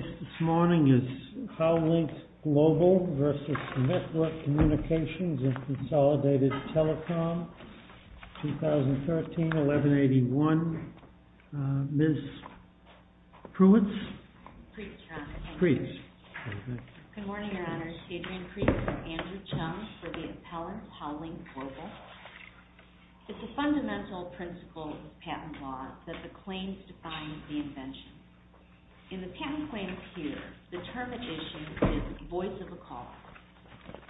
This morning is Howlink Global v. Network Communications and Consolidated Telecom, 2013-1181. Ms. Pruitt. Good morning, Your Honor. Adrienne Pruitt from Andrew Chung for the appellant, Howlink Global. It's a fundamental principle of patent law that the claims define the invention. In the patent claims here, the term at issue is voice of a caller.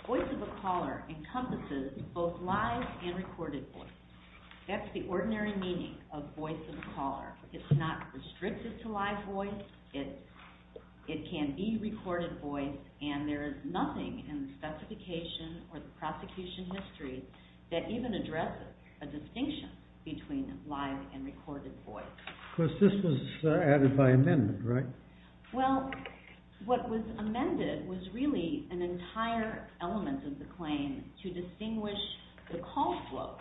Voice of a caller encompasses both live and recorded voice. That's the ordinary meaning of voice of a caller. It's not restricted to live voice. It can be recorded voice, and there is nothing in the specification or the prosecution history that even addresses a distinction between live and recorded voice. Of course, this was added by amendment, right? Well, what was amended was really an entire element of the claim to distinguish the call flow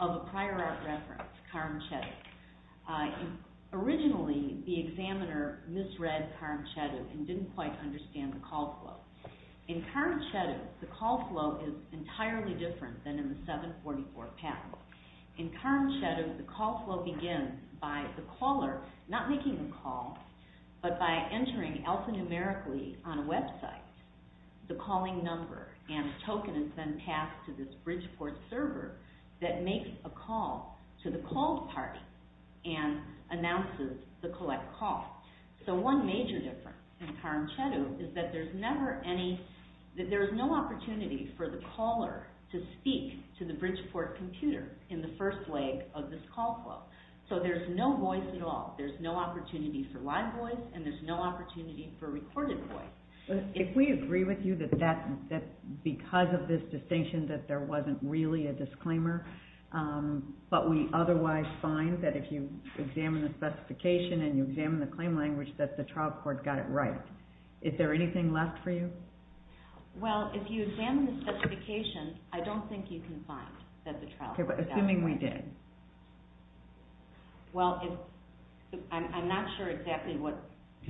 of a prior art reference, Karamchedu. Originally, the examiner misread Karamchedu and didn't quite understand the call flow. In Karamchedu, the call flow is entirely different than in the 744 patent. In Karamchedu, the call flow begins by the caller not making the call, but by entering alphanumerically on a website the calling number, and the token is then passed to this Bridgeport server that makes a call to the called party and announces the collect call. So one major difference in Karamchedu is that there's no opportunity for the caller to speak to the Bridgeport computer in the first leg of this call flow. So there's no voice at all. There's no opportunity for live voice, and there's no opportunity for recorded voice. If we agree with you that because of this distinction that there wasn't really a disclaimer, but we otherwise find that if you examine the specification and you examine the claim language that the trial court got it right, is there anything left for you? Well, if you examine the specification, I don't think you can find that the trial court got it right. Okay, but assuming we did. Well, I'm not sure exactly what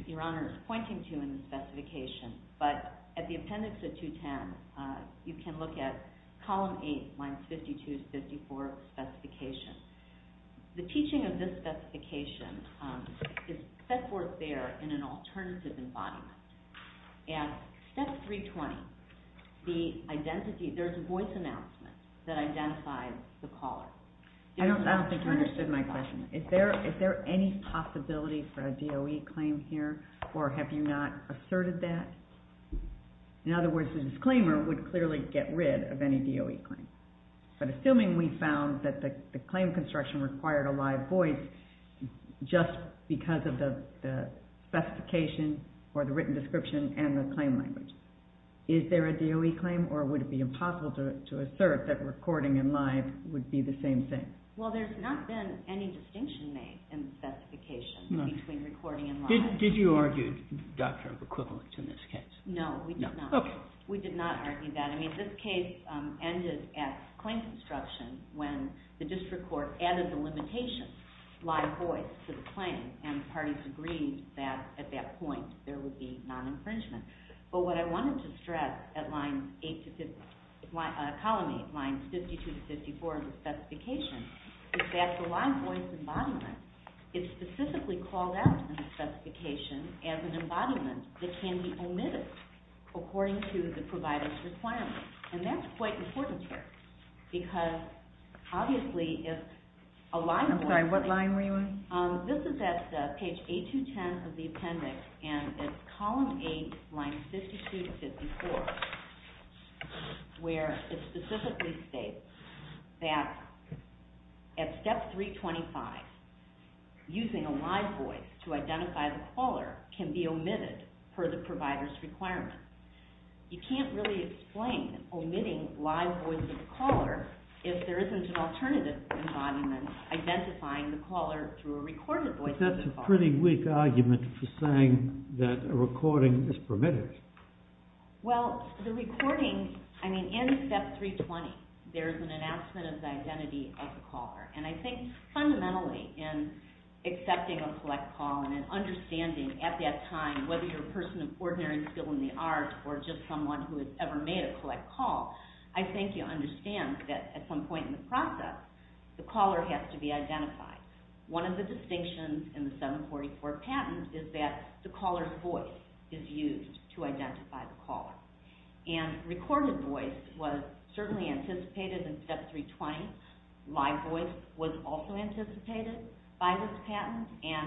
Your Honor is pointing to in the specification, but at the appendix of 210, you can look at column 8, lines 52 to 54 of the specification. The teaching of this specification is set forth there in an alternative embodiment. At step 320, there's a voice announcement that identifies the caller. I don't think you understood my question. Is there any possibility for a DOE claim here, or have you not asserted that? In other words, the disclaimer would clearly get rid of any DOE claim. But assuming we found that the claim construction required a live voice just because of the specification or the written description and the claim language, is there a DOE claim, or would it be impossible to assert that recording and live would be the same thing? Well, there's not been any distinction made in the specification between recording and live. Did you argue a doctrine of equivalence in this case? No, we did not. Okay. I didn't argue that. I mean, this case ended at claim construction when the district court added the limitation, live voice, to the claim, and the parties agreed that at that point there would be non-infringement. But what I wanted to stress at column 8, lines 52 to 54 of the specification, is that the live voice embodiment is specifically called out in the specification as an embodiment that can be omitted according to the provider's requirements. And that's quite important here, because obviously if a live voice... I'm sorry, what line were you on? This is at page 8210 of the appendix, and it's column 8, lines 52 to 54, where it specifically states that at step 325, using a live voice to identify the caller can be omitted per the provider's requirements. You can't really explain omitting live voice of the caller if there isn't an alternative embodiment identifying the caller through a recorded voice of the caller. But that's a pretty weak argument for saying that a recording is permitted. Well, the recording, I mean, in step 320, there's an announcement of the identity of the caller. And I think fundamentally in accepting a collect call and an understanding at that time, whether you're a person of ordinary skill in the art or just someone who has ever made a collect call, I think you understand that at some point in the process, the caller has to be identified. One of the distinctions in the 744 patent is that the caller's voice is used to identify the caller. And recorded voice was certainly anticipated in step 320. Live voice was also anticipated by this patent. And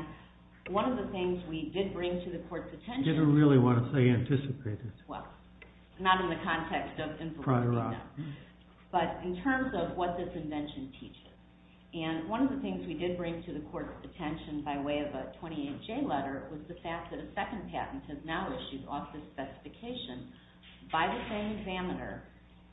one of the things we did bring to the court's attention... You didn't really want to say anticipated. Well, not in the context of information, no. But in terms of what this invention teaches. And one of the things we did bring to the court's attention by way of a 28J letter was the fact that a second patent has now issued off this specification by the same examiner.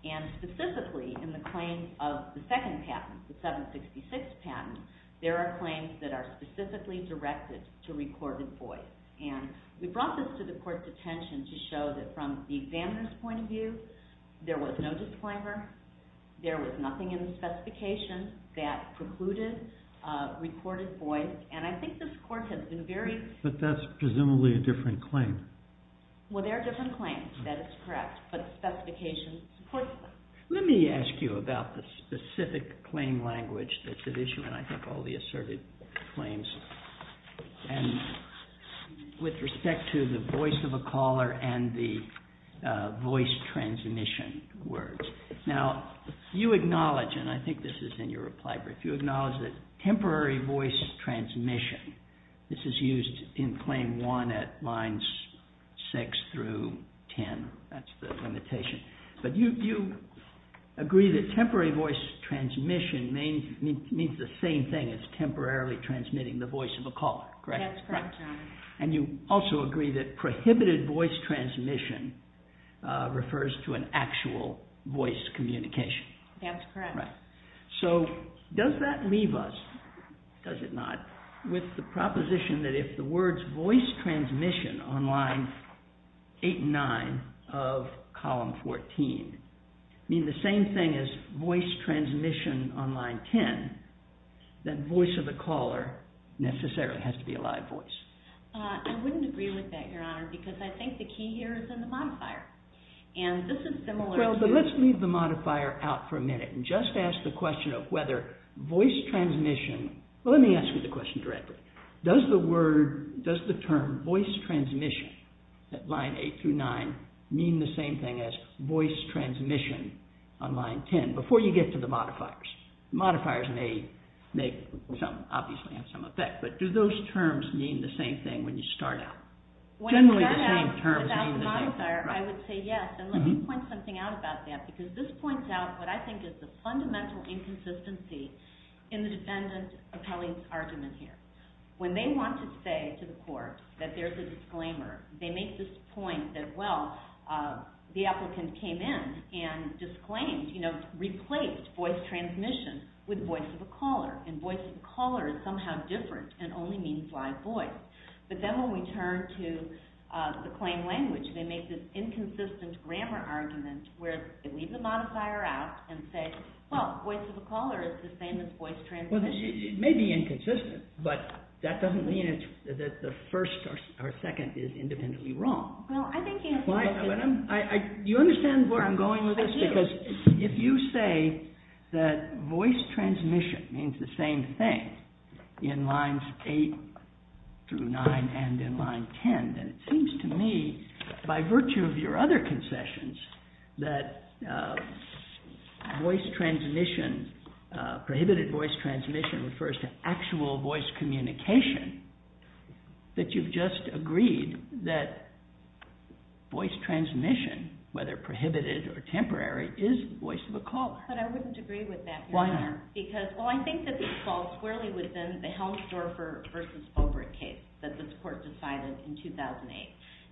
And specifically in the claims of the second patent, the 766 patent, there are claims that are specifically directed to recorded voice. And we brought this to the court's attention to show that from the examiner's point of view, there was no disclaimer. There was nothing in the specification that precluded recorded voice. And I think this court has been very... But that's presumably a different claim. Well, there are different claims. That is correct. But the specification supports them. Let me ask you about the specific claim language that's at issue in, I think, all the asserted claims. And with respect to the voice of a caller and the voice transmission words. Now, you acknowledge, and I think this is in your reply brief, you acknowledge that temporary voice transmission, this is used in Claim 1 at Lines 6 through 10. That's the limitation. But you agree that temporary voice transmission means the same thing as temporarily transmitting the voice of a caller, correct? That's correct. And you also agree that prohibited voice transmission refers to an actual voice communication. That's correct. So does that leave us, does it not, with the proposition that if the words voice transmission on Lines 8 and 9 of Column 14 mean the same thing as voice transmission on Line 10, then voice of the caller necessarily has to be a live voice? I wouldn't agree with that, Your Honor, because I think the key here is in the modifier. And this is similar to... Well, but let's leave the modifier out for a minute and just ask the question of whether voice transmission... Well, let me ask you the question directly. Does the word, does the term voice transmission at Line 8 through 9 mean the same thing as voice transmission on Line 10? Again, before you get to the modifiers. Modifiers may make some, obviously, have some effect. But do those terms mean the same thing when you start out? When you start out without the modifier, I would say yes. And let me point something out about that, because this points out what I think is the fundamental inconsistency in the defendant appellee's argument here. When they want to say to the court that there's a disclaimer, they make this point that, well, the applicant came in and disclaimed, you know, replaced voice transmission with voice of the caller. And voice of the caller is somehow different and only means live voice. But then when we turn to the claim language, they make this inconsistent grammar argument where they leave the modifier out and say, well, voice of the caller is the same as voice transmission. Well, it may be inconsistent. But that doesn't mean that the first or second is independently wrong. You understand where I'm going with this? Because if you say that voice transmission means the same thing in Lines 8 through 9 and in Line 10, then it seems to me, by virtue of your other concessions, that voice transmission, prohibited voice transmission, refers to actual voice communication, that you've just agreed that voice transmission, whether prohibited or temporary, is voice of a caller. But I wouldn't agree with that, Your Honor. Why not? Because, well, I think that this falls squarely within the Helms-Dorfer v. Obert case that this court decided in 2008.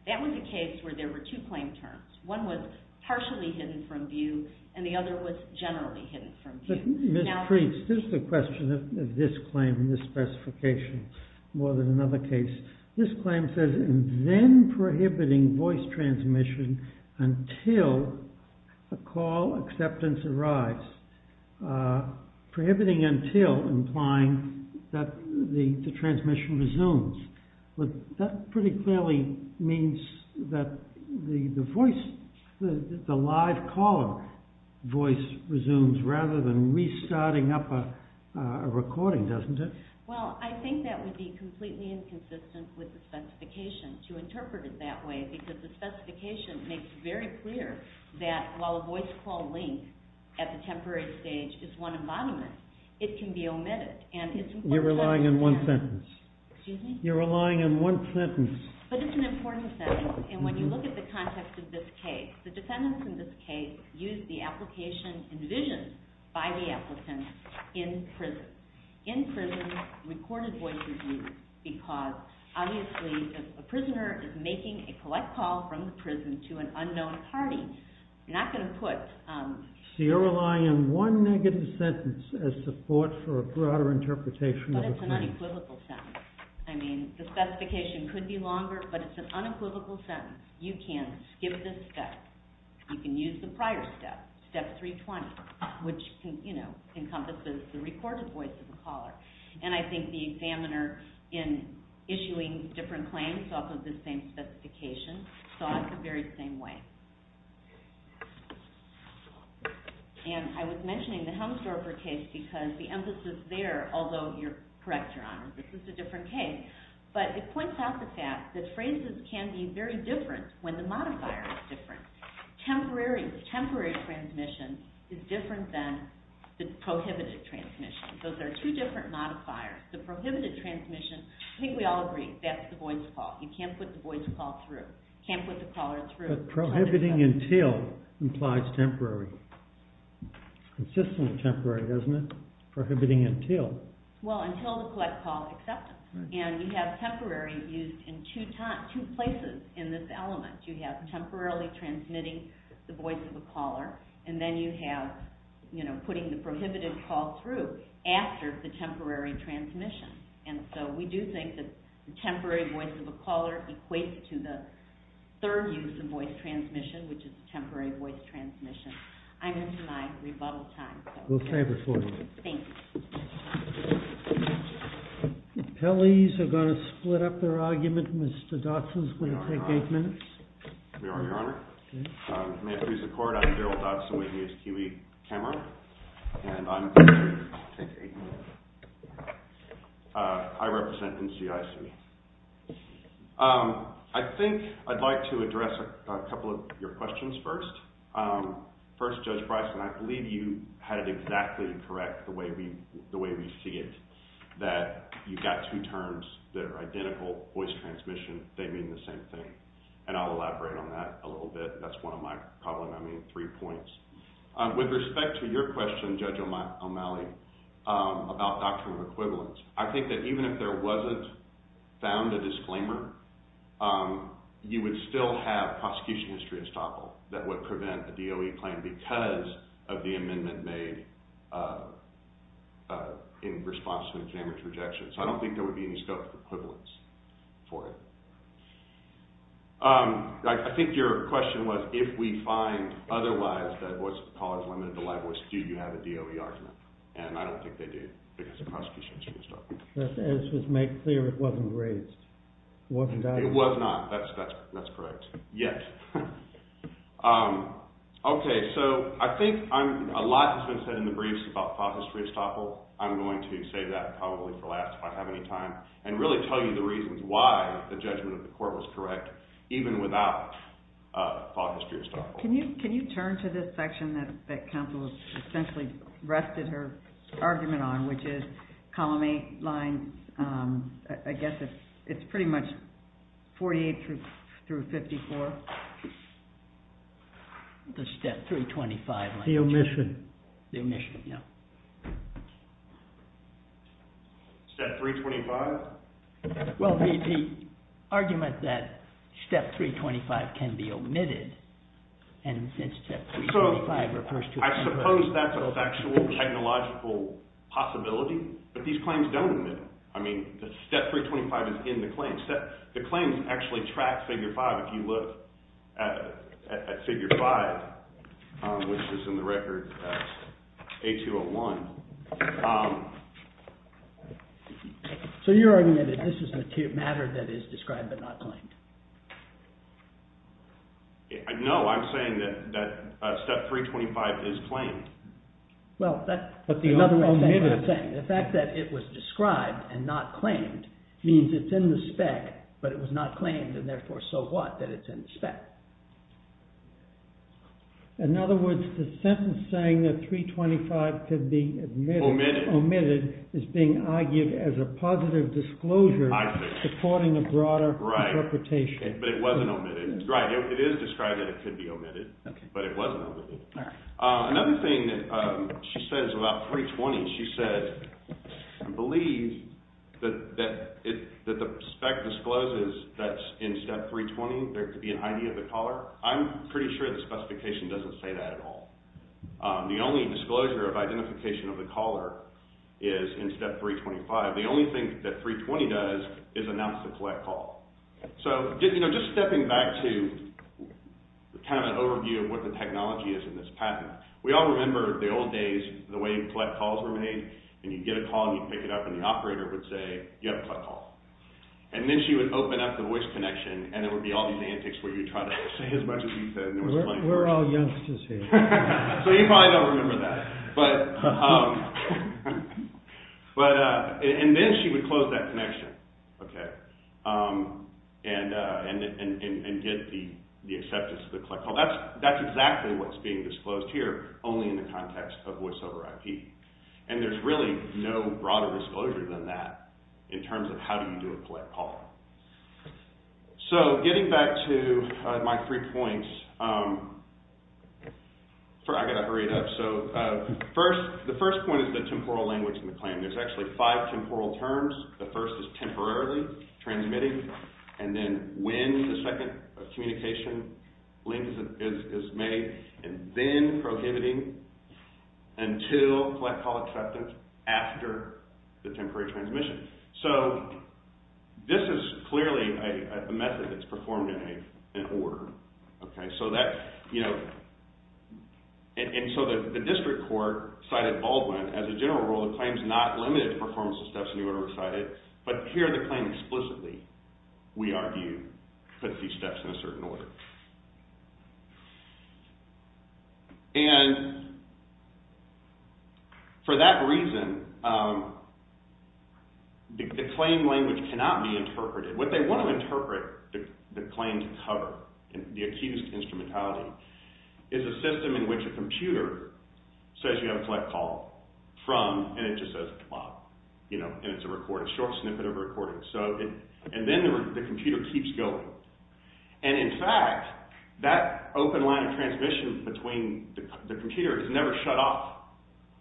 That was a case where there were two claim terms. One was partially hidden from view, and the other was generally hidden from view. Mr. Preece, this is a question of this claim, this specification, more than another case. This claim says, then prohibiting voice transmission until a call acceptance arrives. Prohibiting until, implying that the transmission resumes. That pretty clearly means that the live caller voice resumes rather than restarting up a recording, doesn't it? Well, I think that would be completely inconsistent with the specification to interpret it that way, because the specification makes very clear that while a voice call link at the temporary stage is one embodiment, it can be omitted. You're relying on one sentence. Excuse me? You're relying on one sentence. But it's an important sentence, and when you look at the context of this case, the defendants in this case used the application envisioned by the applicants in prison. In prison, recorded voice is used because, obviously, if a prisoner is making a collect call from the prison to an unknown party, you're not going to put... So you're relying on one negative sentence as support for a broader interpretation of the claim. But it's an unequivocal sentence. I mean, the specification could be longer, but it's an unequivocal sentence. You can skip this step. You can use the prior step, Step 320, which encompasses the recorded voice of the caller. And I think the examiner, in issuing different claims off of the same specification, saw it the very same way. And I was mentioning the Helmsdorfer case because the emphasis there, although you're correct, Your Honor, this is a different case, but it points out the fact that phrases can be very different when the modifier is different. Temporary transmission is different than the prohibited transmission. Those are two different modifiers. The prohibited transmission, I think we all agree, that's the voice call. You can't put the voice call through. You can't put the caller through. But prohibiting until implies temporary. Consistent with temporary, doesn't it? Prohibiting until. Well, until the collect call acceptance. And you have temporary used in two places in this element. You have temporarily transmitting the voice of the caller, and then you have putting the prohibited call through after the temporary transmission. And so we do think that the temporary voice of the caller equates to the third use of voice transmission, which is temporary voice transmission. I'm into my rebuttal time. We'll save it for you. Thank you. Appellees are going to split up their argument. Mr. Dodson is going to take eight minutes. May I, Your Honor? May I please accord? I'm Darryl Dodson with the U.S. QE camera, and I'm going to take eight minutes. I represent NCIC. I think I'd like to address a couple of your questions first. First, Judge Bryson, I believe you had it exactly correct the way we see it, that you've got two terms that are identical, voice transmission, they mean the same thing. And I'll elaborate on that a little bit. That's one of my problem, I mean, three points. With respect to your question, Judge O'Malley, about doctrine of equivalence, I think that even if there wasn't found a disclaimer, you would still have prosecution history estoppel that would prevent a DOE claim because of the amendment made in response to an examiner's rejection. So I don't think there would be any scope for equivalence for it. I think your question was if we find otherwise that voice of appellers limited to live voice, do you have a DOE argument? And I don't think they do because of prosecution history estoppel. As was made clear, it wasn't raised. It was not, that's correct. Yes. Okay, so I think a lot has been said in the briefs about file history estoppel. I'm going to save that probably for last if I have any time and really tell you the reasons why the judgment of the court was correct even without file history estoppel. Can you turn to this section that counsel essentially rested her argument on, which is column A line, I guess it's pretty much 48 through 54. The step 325 line. The omission. The omission, yeah. Step 325? Well, the argument that step 325 can be omitted, and since step 325 refers to… I suppose that's an actual technological possibility, but these claims don't omit. I mean, step 325 is in the claims. The claims actually track figure 5 if you look at figure 5, which is in the record A201. So you're arguing that this is a matter that is described but not claimed? No, I'm saying that step 325 is claimed. Well, that's what I'm saying. The fact that it was described and not claimed means it's in the spec, but it was not claimed and therefore so what that it's in the spec. In other words, the sentence saying that 325 could be omitted is being argued as a positive disclosure supporting a broader interpretation. Right, but it wasn't omitted. Right, it is described that it could be omitted, but it wasn't omitted. Another thing she says about 320, she says, I believe that the spec discloses that in step 320 there could be an ID of the caller. I'm pretty sure the specification doesn't say that at all. The only disclosure of identification of the caller is in step 325. The only thing that 320 does is announce the collect call. So just stepping back to kind of an overview of what the technology is in this patent. We all remember the old days, the way collect calls were made, and you'd get a call and you'd pick it up and the operator would say, you have a collect call. And then she would open up the voice connection and there would be all these antics where you'd try to say as much as you said. We're all youngsters here. So you probably don't remember that. But, and then she would close that connection, okay, and get the acceptance of the collect call. That's exactly what's being disclosed here, only in the context of voice over IP. And there's really no broader disclosure than that in terms of how do you do a collect call. So getting back to my three points, I've got to hurry it up. So the first point is the temporal language in the claim. There's actually five temporal terms. The first is temporarily, transmitting, and then when the second communication link is made, and then prohibiting until collect call acceptance after the temporary transmission. So this is clearly a method that's performed in an order, okay. So that, you know, and so the district court cited Baldwin as a general rule that claims not limited to performance of steps in the order recited, but here the claim explicitly, we argue, puts these steps in a certain order. And for that reason, the claim language cannot be interpreted. What they want to interpret the claim to cover, the accused instrumentality, is a system in which a computer says you have a collect call from, and it just says, well, you know, and it's a short snippet of recording. So, and then the computer keeps going. And in fact, that open line of transmission between the computer is never shut off,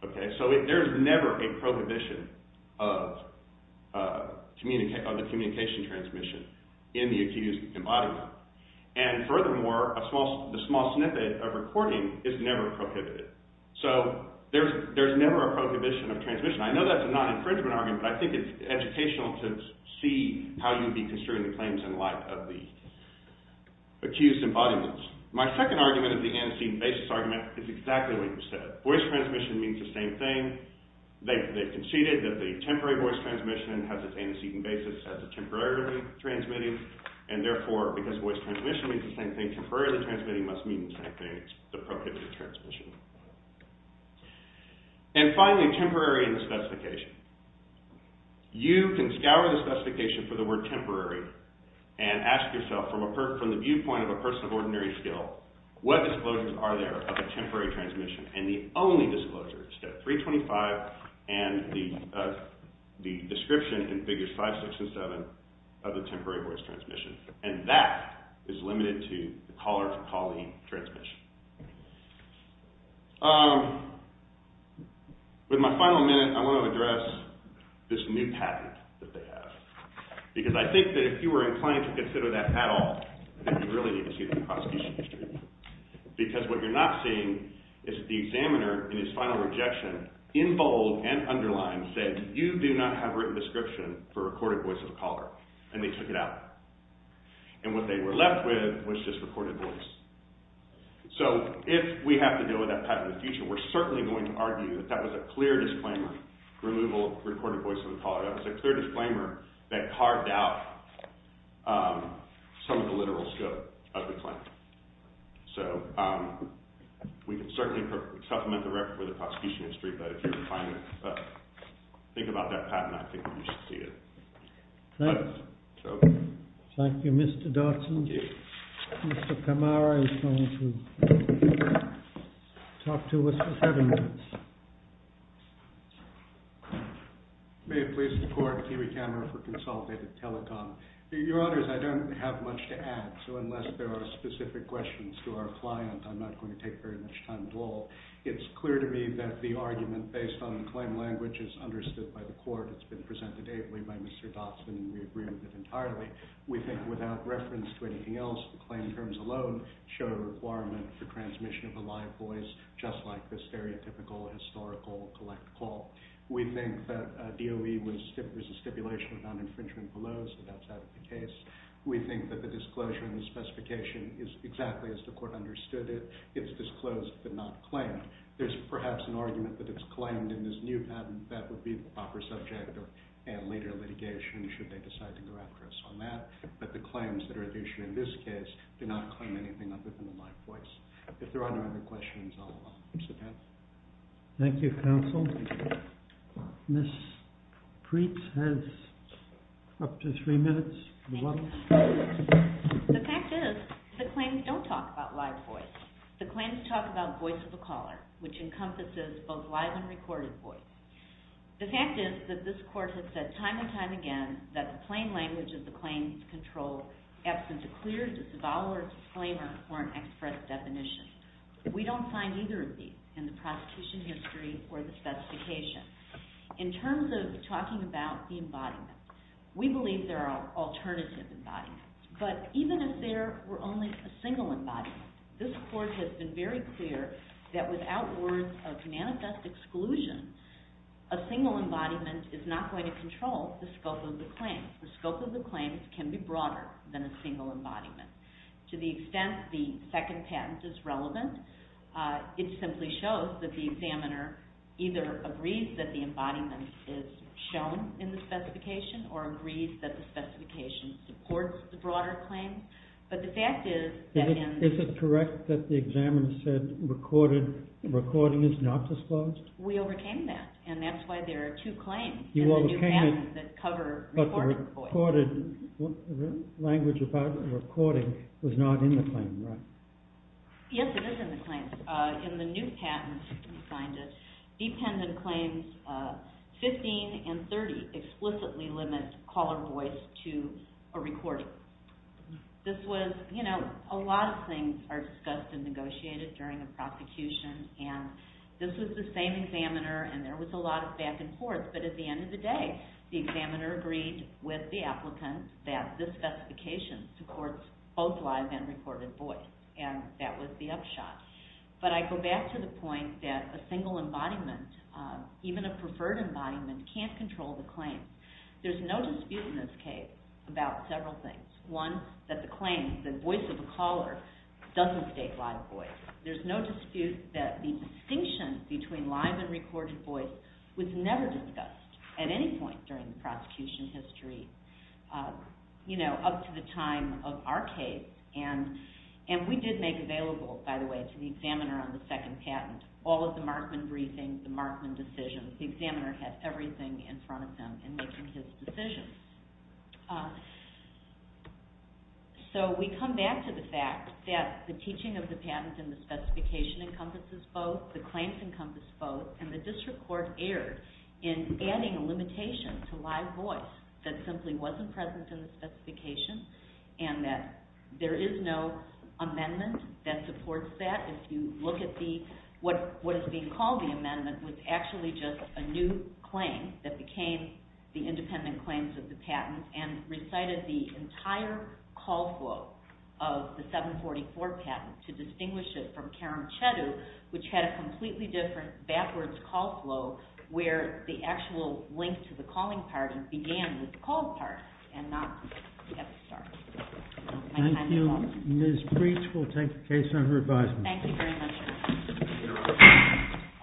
okay. So there's never a prohibition of the communication transmission in the accused embodiment. And furthermore, the small snippet of recording is never prohibited. So there's never a prohibition of transmission. I know that's a non-infringement argument, but I think it's educational to see how you'd be construing the claims in light of the accused embodiment. My second argument of the antecedent basis argument is exactly what you said. Voice transmission means the same thing. They conceded that the temporary voice transmission has its antecedent basis as a temporarily transmitting, and therefore, because voice transmission means the same thing, temporarily transmitting must mean the same thing. It's the prohibition of transmission. And finally, temporary in the specification. You can scour the specification for the word temporary and ask yourself from the viewpoint of a person of ordinary skill, what disclosures are there of a temporary transmission? And the only disclosure is step 325 and the description in figures 5, 6, and 7 of the temporary voice transmission. And that is limited to the caller to callee transmission. With my final minute, I want to address this new patent that they have. Because I think that if you were inclined to consider that at all, then you really need to see the prosecution history. Because what you're not seeing is the examiner, in his final rejection, in bold and underlined, said, you do not have a written description for a recorded voice of a caller. And they took it out. And what they were left with was just recorded voice. So if we have to deal with that patent in the future, we're certainly going to argue that that was a clear disclaimer. Removal of recorded voice of a caller. That was a clear disclaimer that carved out some of the literal scope of the claim. So we can certainly supplement the record for the prosecution history, but if you're inclined to think about that patent, I think you should see it. Thank you, Mr. Dodson. Thank you. Mr. Kamara is going to talk to us for seven minutes. May it please the court, Kiwi Kamara for Consolidated Telecom. Your honors, I don't have much to add. So unless there are specific questions to our client, I'm not going to take very much time at all. It's clear to me that the argument based on the claim language is understood by the court. It's been presented ably by Mr. Dodson. We agree with it entirely. We think without reference to anything else, the claim terms alone show a requirement for transmission of a live voice, just like the stereotypical historical collect call. We think that DOE was a stipulation of non-infringement below, so that's out of the case. We think that the disclosure and the specification is exactly as the court understood it. It's disclosed but not claimed. There's perhaps an argument that it's claimed in this new patent. That would be the proper subject and later litigation should they decide to go after us on that. But the claims that are at issue in this case do not claim anything other than a live voice. If there are no other questions, I'll sit down. Thank you, counsel. Ms. Preetz has up to three minutes. The fact is the claims don't talk about live voice. The claims talk about voice of the caller, which encompasses both live and recorded voice. The fact is that this court has said time and time again that the plain language of the claims control absence of clear disavowal or disclaimer or an express definition. We don't find either of these in the prosecution history or the specification. In terms of talking about the embodiment, we believe there are alternative embodiments. But even if there were only a single embodiment, this court has been very clear that without words of manifest exclusion, a single embodiment is not going to control the scope of the claims. The scope of the claims can be broader than a single embodiment. To the extent the second patent is relevant, it simply shows that the examiner either agrees that the embodiment is shown in the specification or agrees that the specification supports the broader claims. But the fact is that in... Is it correct that the examiner said recording is not disclosed? We overcame that, and that's why there are two claims in the new patent that cover recorded voice. But the language about recording was not in the claim, right? Yes, it is in the claim. And in the new patent we signed it, dependent claims 15 and 30 explicitly limit caller voice to a recording. This was, you know, a lot of things are discussed and negotiated during a prosecution, and this was the same examiner and there was a lot of back and forth, but at the end of the day the examiner agreed with the applicant that this specification supports both live and recorded voice, and that was the upshot. But I go back to the point that a single embodiment, even a preferred embodiment, can't control the claims. There's no dispute in this case about several things. One, that the claims, the voice of the caller doesn't state live voice. There's no dispute that the distinction between live and recorded voice was never discussed at any point during the prosecution history, you know, up to the time of our case, and we did make available, by the way, to the examiner on the second patent all of the Markman briefings, the Markman decisions. The examiner had everything in front of him in making his decisions. So we come back to the fact that the teaching of the patent and the specification encompasses both, the claims encompass both, and the district court erred in adding a limitation to live voice that simply wasn't present in the specification, and that there is no amendment that supports that. If you look at what is being called the amendment, it was actually just a new claim that became the independent claims of the patent and recited the entire call flow of the 744 patent to distinguish it from Karamchedu, which had a completely different backwards call flow where the actual link to the calling part began with the call part and not at the start. Thank you. Ms. Breach will take the case under advisement. Thank you very much.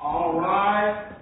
All rise.